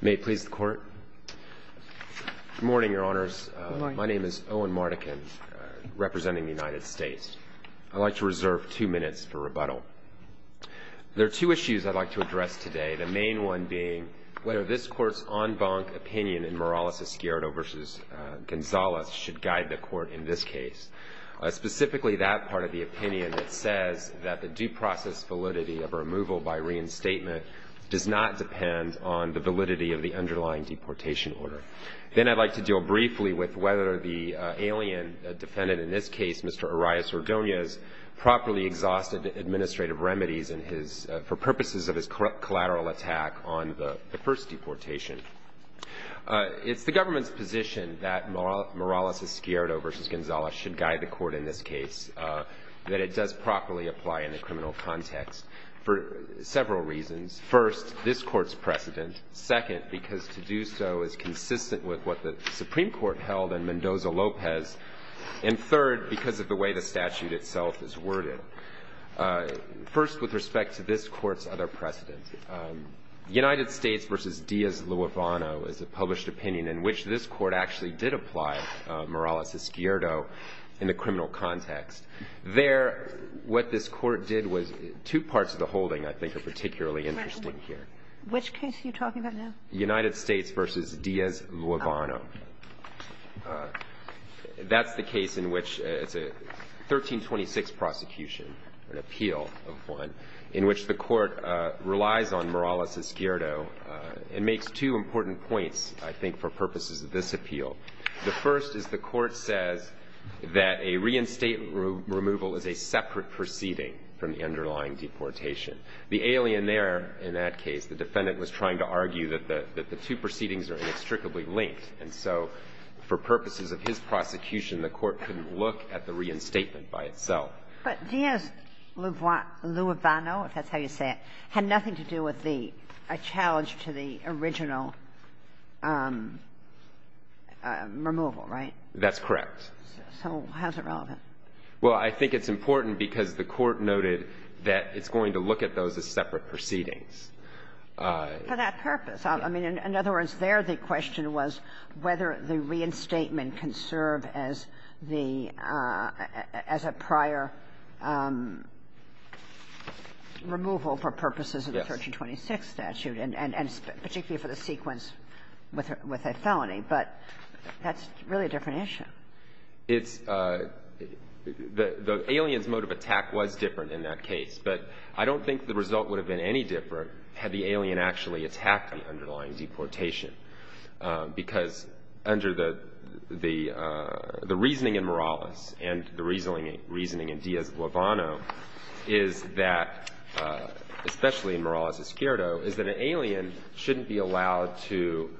May it please the Court. Good morning, Your Honors. My name is Owen Mardekin, representing the United States. I'd like to reserve two minutes for rebuttal. There are two issues I'd like to address today, the main one being whether this Court's en banc opinion in Morales-Escuero v. Gonzales should guide the Court in this case, specifically that part of the opinion that says that the due process validity of removal by reinstatement does not depend on the validity of the underlying deportation order. Then I'd like to deal briefly with whether the alien defendant in this case, Mr. Arias-Ordonez, properly exhausted administrative remedies for purposes of his collateral attack on the first deportation. It's the government's position that Morales-Escuero v. Gonzales should guide the Court in this case, that it does properly apply in the criminal context for several reasons. First, this Court's precedent. Second, because to do so is consistent with what the Supreme Court held in Mendoza-Lopez. And third, because of the way the statute itself is worded. First, with respect to this Court's other precedent, United States v. Diaz-Luevano is a published opinion in which this Court actually did apply Morales-Escuero in the criminal context. There, what this Court did was two parts of the holding I think are particularly interesting here. Which case are you talking about now? United States v. Diaz-Luevano. That's the case in which it's a 1326 prosecution, an appeal of one, in which the Court relies on Morales-Escuero and makes two important points, I think, for purposes of this appeal. The first is the Court says that a reinstatement removal is a separate proceeding from the underlying deportation. The alien there in that case, the defendant was trying to argue that the two proceedings are inextricably linked. And so for purposes of his prosecution, the Court couldn't look at the reinstatement by itself. But Diaz-Luevano, if that's how you say it, had nothing to do with the challenge to the original removal, right? That's correct. So how is it relevant? Well, I think it's important because the Court noted that it's going to look at those as separate proceedings. For that purpose. I mean, in other words, there the question was whether the reinstatement can serve as the – as a prior removal for purposes of the 1326 statute and particularly for the sequence with a felony. But that's really a different issue. It's – the alien's mode of attack was different in that case. But I don't think the result would have been any different had the alien actually attacked the underlying deportation. Because under the reasoning in Morales and the reasoning in Diaz-Luevano is that, especially in Morales-Escuerdo, is that an alien shouldn't be allowed to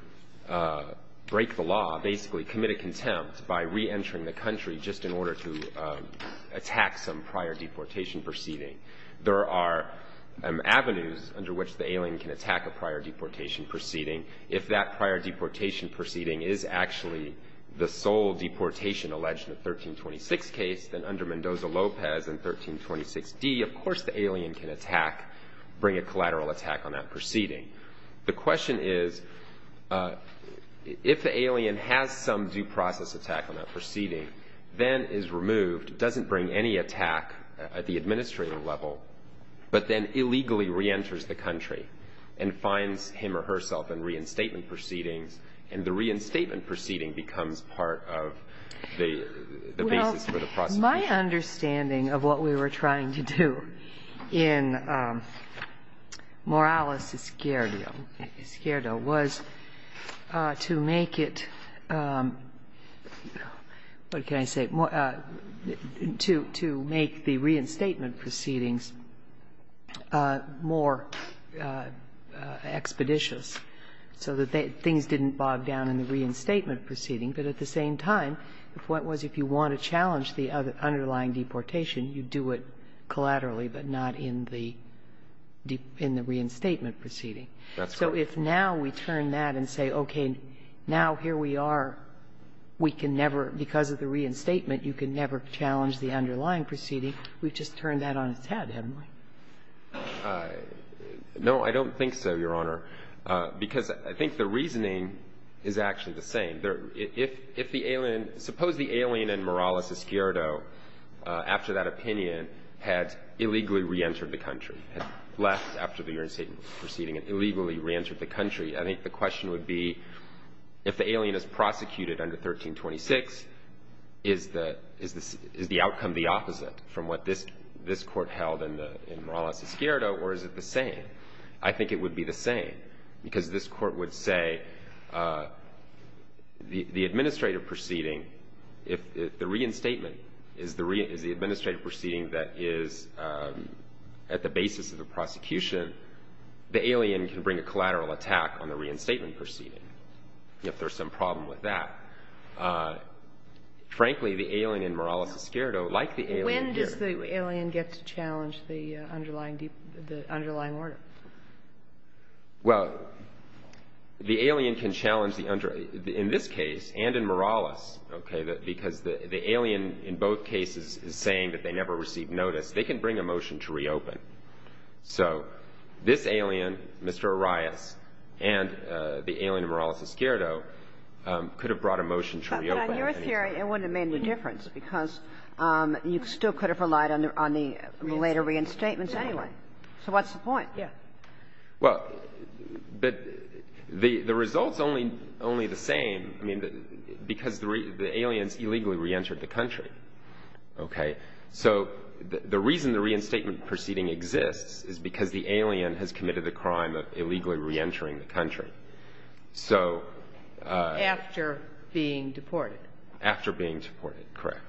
break the law, basically commit a contempt, by reentering the country just in order to attack some prior deportation proceeding. There are avenues under which the alien can attack a prior deportation proceeding. If that prior deportation proceeding is actually the sole deportation alleged in the 1326 case, then under Mendoza-Lopez and 1326d, of course the alien can attack, bring a collateral attack on that proceeding. The question is, if the alien has some due process attack on that proceeding, then is removed, doesn't bring any attack at the administrative level, but then illegally reenters the country and finds him or herself in reinstatement proceedings and the reinstatement proceeding becomes part of the basis for the prosecution. Well, my understanding of what we were trying to do in Morales-Escuerdo was to make it, what can I say, to make the reinstatement proceedings more expeditious so that things didn't bog down in the reinstatement proceeding, but at the same time, if you want to challenge the underlying deportation, you do it collaterally but not in the reinstatement proceeding. That's right. So if now we turn that and say, okay, now here we are, we can never, because of the reinstatement, you can never challenge the underlying proceeding, we've just turned that on its head, haven't we? No, I don't think so, Your Honor, because I think the reasoning is actually the same. Suppose the alien in Morales-Escuerdo, after that opinion, had illegally reentered the country, had left after the reinstatement proceeding and illegally reentered the country. I think the question would be, if the alien is prosecuted under 1326, is the outcome the opposite from what this Court held in Morales-Escuerdo, or is it the same? I think it would be the same, because this Court would say the administrative proceeding, if the reinstatement is the administrative proceeding that is at the basis of the prosecution, the alien can bring a collateral attack on the reinstatement proceeding, if there's some problem with that. Frankly, the alien in Morales-Escuerdo, like the alien here. But how does the alien get to challenge the underlying order? Well, the alien can challenge the underlying order. In this case and in Morales, okay, because the alien in both cases is saying that they never received notice, they can bring a motion to reopen. So this alien, Mr. Arias, and the alien in Morales-Escuerdo could have brought a motion to reopen. But on your theory, it wouldn't have made any difference, because you still could have relied on the later reinstatements anyway. So what's the point? Yeah. Well, but the result's only the same, I mean, because the aliens illegally reentered the country. Okay? So the reason the reinstatement proceeding exists is because the alien has committed the crime of illegally reentering the country. Right. And after being deported. After being deported, correct.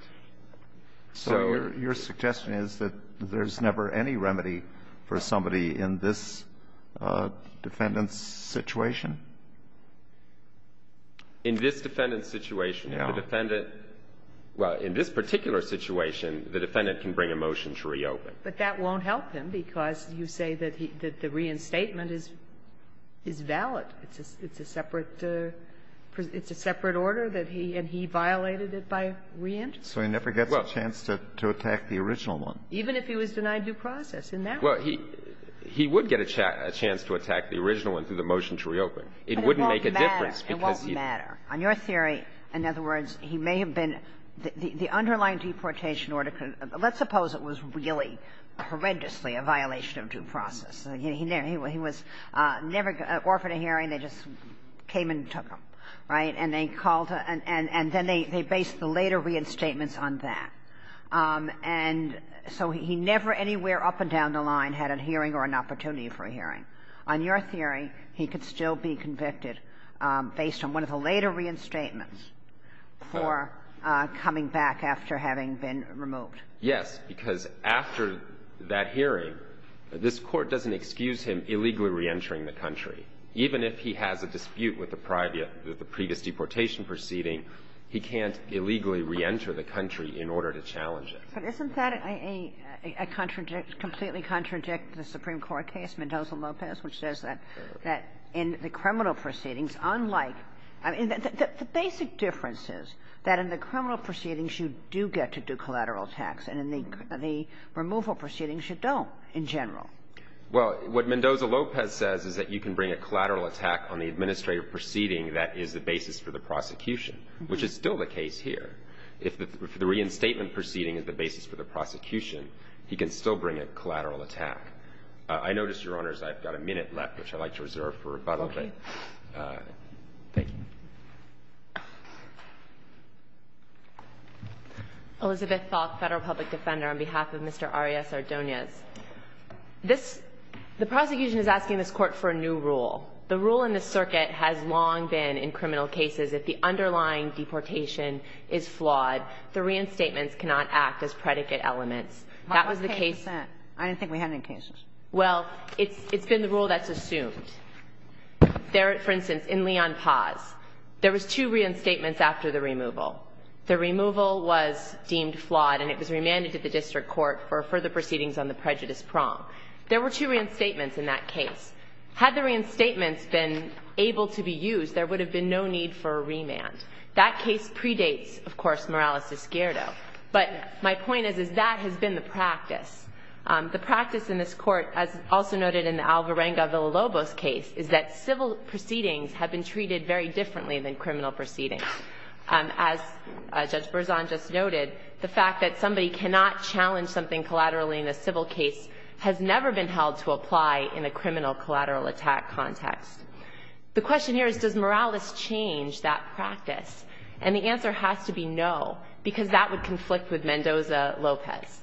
So your suggestion is that there's never any remedy for somebody in this defendant's situation? In this defendant's situation, the defendant — Yeah. But that won't help him, because you say that the reinstatement is valid. It's a separate — it's a separate order that he — and he violated it by reentering. So he never gets a chance to attack the original one. Even if he was denied due process in that one. Well, he would get a chance to attack the original one through the motion to reopen. It wouldn't make a difference, because he — But it won't matter. It won't matter. On your theory, in other words, he may have been — the underlying deportation order could have — let's suppose it was really horrendously a violation of due process. He was never offered a hearing. They just came and took him. Right? And they called — and then they based the later reinstatements on that. And so he never anywhere up and down the line had a hearing or an opportunity for a hearing. On your theory, he could still be convicted based on one of the later reinstatements for coming back after having been removed. Yes. Because after that hearing, this Court doesn't excuse him illegally reentering the country. Even if he has a dispute with the previous deportation proceeding, he can't illegally reenter the country in order to challenge it. But isn't that a — a completely contradict the Supreme Court case, Mendoza-Lopez, which says that in the criminal proceedings, unlike — I mean, the basic difference is that in the criminal proceedings, you do get to do collateral attacks, and in the removal proceedings, you don't in general. Well, what Mendoza-Lopez says is that you can bring a collateral attack on the administrative proceeding that is the basis for the prosecution, which is still the case here. If the — if the reinstatement proceeding is the basis for the prosecution, he can still bring a collateral attack. I notice, Your Honors, I've got a minute left, which I'd like to reserve for rebuttal. Okay. Thank you. Elizabeth Thoth, Federal Public Defender, on behalf of Mr. Arias-Ardoniz. This — the prosecution is asking this Court for a new rule. The rule in this circuit has long been, in criminal cases, if the underlying deportation is flawed, the reinstatements cannot act as predicate elements. That was the case — I don't think we had any cases. Well, it's been the rule that's assumed. There, for instance, in Leon Paz, there was two reinstatements after the removal. The removal was deemed flawed, and it was remanded to the district court for further proceedings on the prejudice prong. There were two reinstatements in that case. Had the reinstatements been able to be used, there would have been no need for a remand. That case predates, of course, Morales-Esquerdo. But my point is, is that has been the practice. The practice in this Court, as also noted in the Alvarenga-Villalobos case, is that civil proceedings have been treated very differently than criminal proceedings. As Judge Berzon just noted, the fact that somebody cannot challenge something collaterally in a civil case has never been held to apply in a criminal collateral attack context. The question here is, does Morales change that practice? And the answer has to be no, because that would conflict with Mendoza-Lopez.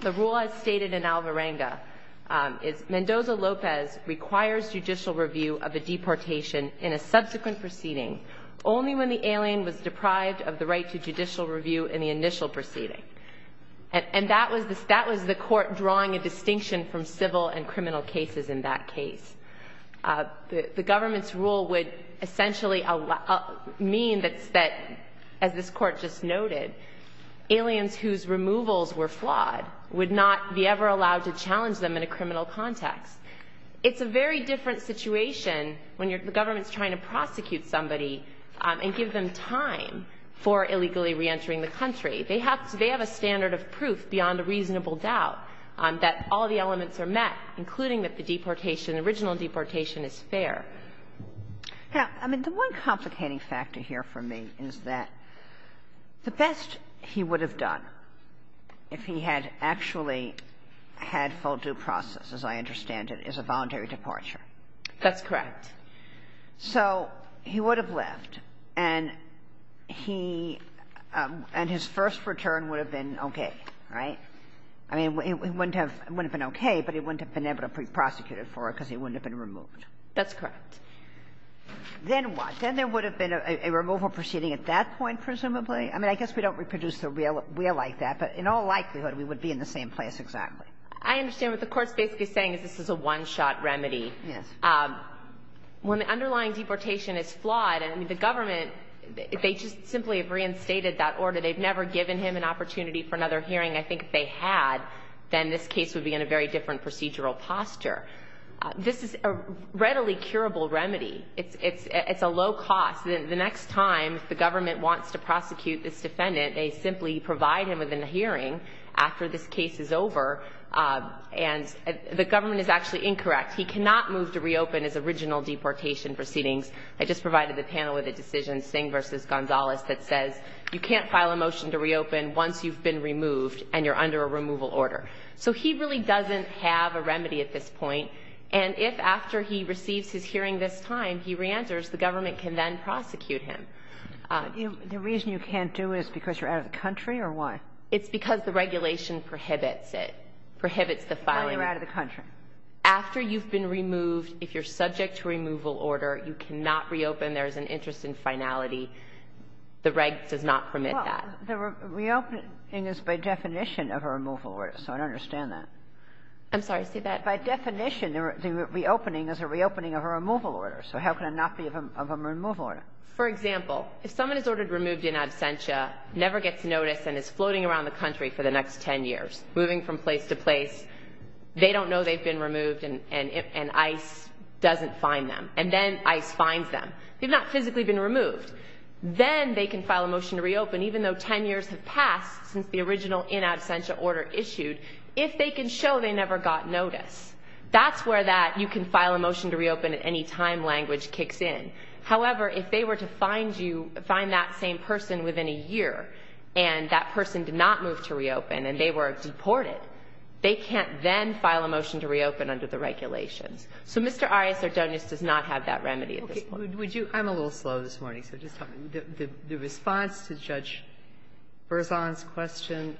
The rule, as stated in Alvarenga, is Mendoza-Lopez requires judicial review of a deportation in a subsequent proceeding only when the alien was deprived of the right to judicial review in the initial proceeding. And that was the Court drawing a distinction from civil and criminal cases in that case. The government's rule would essentially mean that, as this Court just noted, aliens whose removals were flawed would not be ever allowed to challenge them in a criminal context. It's a very different situation when the government is trying to prosecute somebody and give them time for illegally reentering the country. They have a standard of proof beyond a reasonable doubt that all the elements are met, including that the deportation, original deportation, is fair. Now, I mean, the one complicating factor here for me is that the best he would have done if he had actually had full due process, as I understand it, is a voluntary departure. That's correct. So he would have left, and he and his first return would have been okay, right? I mean, it wouldn't have been okay, but he wouldn't have been able to be prosecuted for it because he wouldn't have been removed. That's correct. Then what? Then there would have been a removal proceeding at that point, presumably? I mean, I guess we don't reproduce the real like that, but in all likelihood we would be in the same place exactly. I understand what the Court's basically saying is this is a one-shot remedy. Yes. When the underlying deportation is flawed, I mean, the government, they just simply have reinstated that order. They've never given him an opportunity for another hearing. I think if they had, then this case would be in a very different procedural posture. This is a readily curable remedy. It's a low cost. The next time the government wants to prosecute this defendant, they simply provide him with a hearing after this case is over, and the government is actually incorrect. He cannot move to reopen his original deportation proceedings. I just provided the panel with a decision, Singh v. Gonzalez, that says you can't file a motion to reopen once you've been removed and you're under a removal order. So he really doesn't have a remedy at this point. And if after he receives his hearing this time, he reenters, the government can then prosecute him. The reason you can't do it is because you're out of the country, or why? It's because the regulation prohibits it, prohibits the filing. Why you're out of the country. After you've been removed, if you're subject to a removal order, you cannot reopen. There is an interest in finality. The reg does not permit that. The reopening is by definition of a removal order, so I don't understand that. I'm sorry. Say that again. By definition, the reopening is a reopening of a removal order. So how can it not be of a removal order? For example, if someone is ordered removed in absentia, never gets notice, and is floating around the country for the next 10 years, moving from place to place, they don't know they've been removed, and ICE doesn't find them. And then ICE finds them. They've not physically been removed. Then they can file a motion to reopen, even though 10 years have passed since the original in absentia order issued, if they can show they never got notice. That's where that you can file a motion to reopen at any time language kicks in. However, if they were to find you, find that same person within a year, and that person did not move to reopen, and they were deported, they can't then file a motion to reopen under the regulations. So Mr. Arias-Sardonis does not have that remedy at this point. Would you – I'm a little slow this morning, so just tell me. The response to Judge Berzon's question,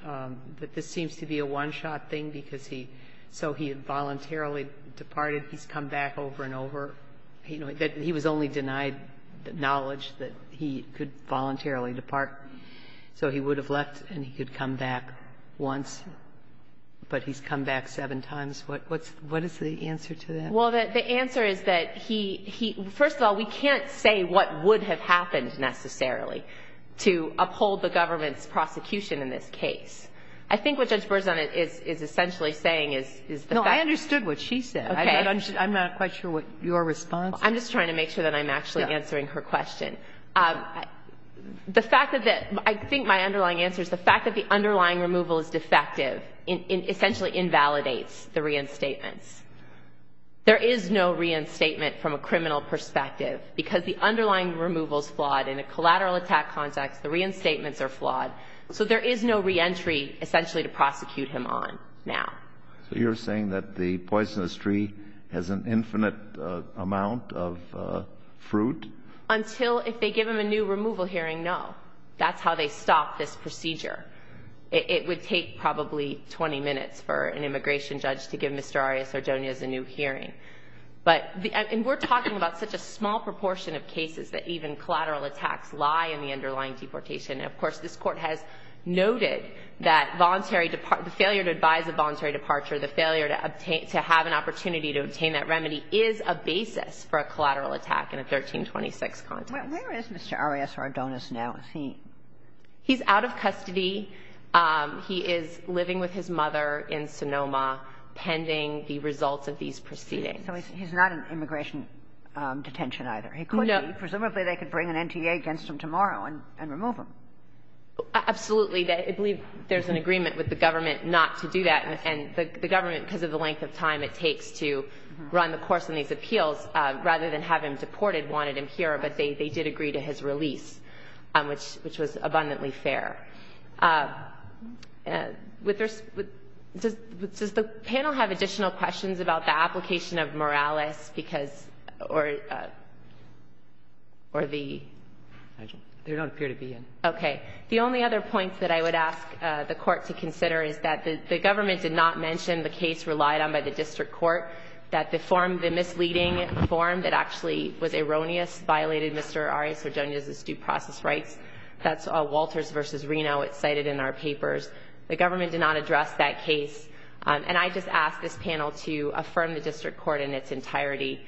that this seems to be a one-shot thing because he – so he had voluntarily departed. He's come back over and over. He was only denied the knowledge that he could voluntarily depart. So he would have left and he could come back once, but he's come back seven times. What is the answer to that? Well, the answer is that he – first of all, we can't say what would have happened necessarily to uphold the government's prosecution in this case. I think what Judge Berzon is essentially saying is the fact that – No, I understood what she said. Okay. I'm not quite sure what your response is. I'm just trying to make sure that I'm actually answering her question. The fact that – I think my underlying answer is the fact that the underlying removal is defective essentially invalidates the reinstatements. There is no reinstatement from a criminal perspective because the underlying removal is flawed. In a collateral attack context, the reinstatements are flawed, so there is no reentry essentially to prosecute him on now. So you're saying that the poisonous tree has an infinite amount of fruit? Until if they give him a new removal hearing, no. That's how they stop this procedure. It would take probably 20 minutes for an immigration judge to give Mr. Arias-Ardonas a new hearing. But – and we're talking about such a small proportion of cases that even collateral attacks lie in the underlying deportation. And, of course, this Court has noted that voluntary – the failure to advise a voluntary departure, the failure to have an opportunity to obtain that remedy is a basis for a collateral attack in a 1326 context. Where is Mr. Arias-Ardonas now? Is he – He's out of custody. He is living with his mother in Sonoma pending the results of these proceedings. So he's not in immigration detention either. He could be. No. Presumably they could bring an NTA against him tomorrow and remove him. Absolutely. I believe there's an agreement with the government not to do that. And the government, because of the length of time it takes to run the course in these appeals, rather than have him deported, wanted him here. But they did agree to his release, which was abundantly fair. Does the panel have additional questions about the application of moralis because – or the – They don't appear to be in. Okay. The only other point that I would ask the Court to consider is that the government did not mention the case relied on by the district court, that the misleading form that actually was erroneous violated Mr. Arias-Ardonas' due process rights. That's Walters v. Reno. It's cited in our papers. The government did not address that case. And I just ask this panel to affirm the district court in its entirety,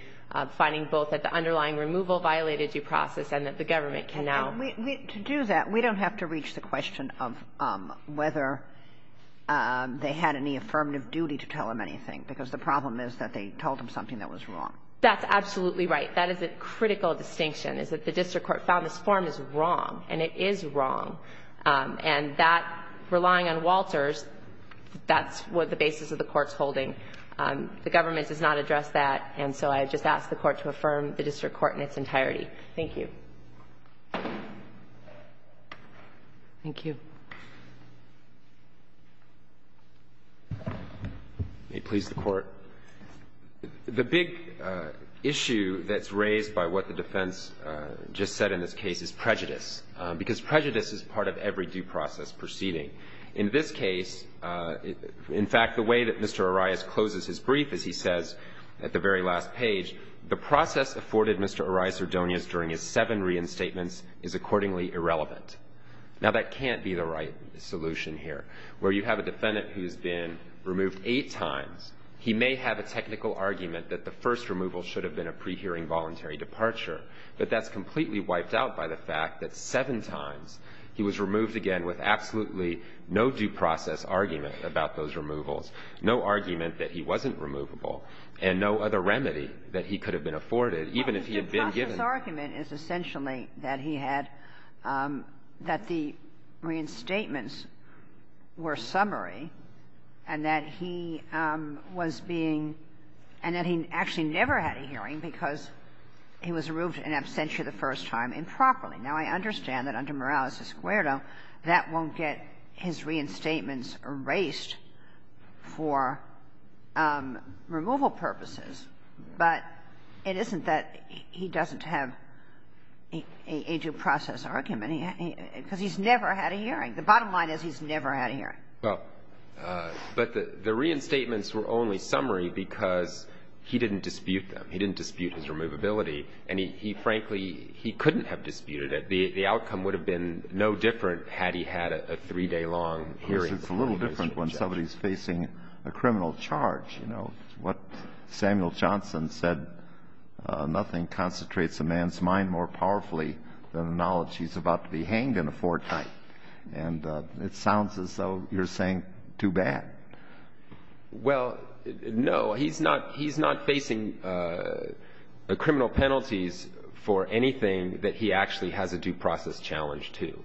finding both that the underlying removal violated due process and that the government can now – To do that, we don't have to reach the question of whether they had any affirmative duty to tell him anything, because the problem is that they told him something that was wrong. That's absolutely right. That is a critical distinction, is that the district court found this form is wrong, and it is wrong. And that – relying on Walters, that's what the basis of the Court's holding. The government does not address that, and so I just ask the Court to affirm the district court in its entirety. Thank you. Thank you. May it please the Court. The big issue that's raised by what the defense just said in this case is prejudice, because prejudice is part of every due process proceeding. In this case, in fact, the way that Mr. Arias closes his brief, as he says at the very last page, the process afforded Mr. Arias-Ardonas during his seven reinstatements is accordingly irrelevant. Now, that can't be the right solution here. Where you have a defendant who's been removed eight times, he may have a technical argument that the first removal should have been a pre-hearing voluntary departure, but that's completely wiped out by the fact that seven times he was removed again with absolutely no due process argument about those removals, no argument that he wasn't removable, and no other remedy that he could have been afforded, even if he had been given one. So the argument is essentially that he had that the reinstatements were summary and that he was being and that he actually never had a hearing because he was removed in absentia the first time improperly. Now, I understand that under Morales-Escuero, that won't get his reinstatements erased for removal purposes, but it isn't that he doesn't have a due process argument because he's never had a hearing. The bottom line is he's never had a hearing. Well, but the reinstatements were only summary because he didn't dispute them. He didn't dispute his removability. And he frankly, he couldn't have disputed it. The outcome would have been no different had he had a three-day-long hearing. It's a little different when somebody's facing a criminal charge. You know, what Samuel Johnson said, nothing concentrates a man's mind more powerfully than the knowledge he's about to be hanged in a fortnight. And it sounds as though you're saying too bad. Well, no. He's not facing criminal penalties for anything that he actually has a due process challenge to.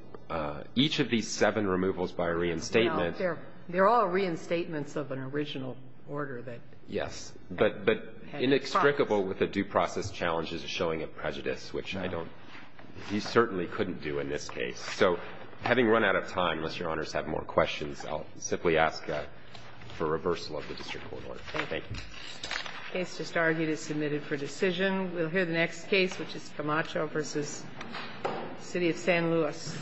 Each of these seven removals by reinstatement. Well, they're all reinstatements of an original order that had a due process. Yes. But inextricable with a due process challenge is a showing of prejudice, which I don't think he certainly couldn't do in this case. So having run out of time, unless Your Honors have more questions, I'll simply ask for reversal of the district court order. Thank you. The case just argued is submitted for decision. We'll hear the next case, which is Camacho v. City of San Luis, Arizona.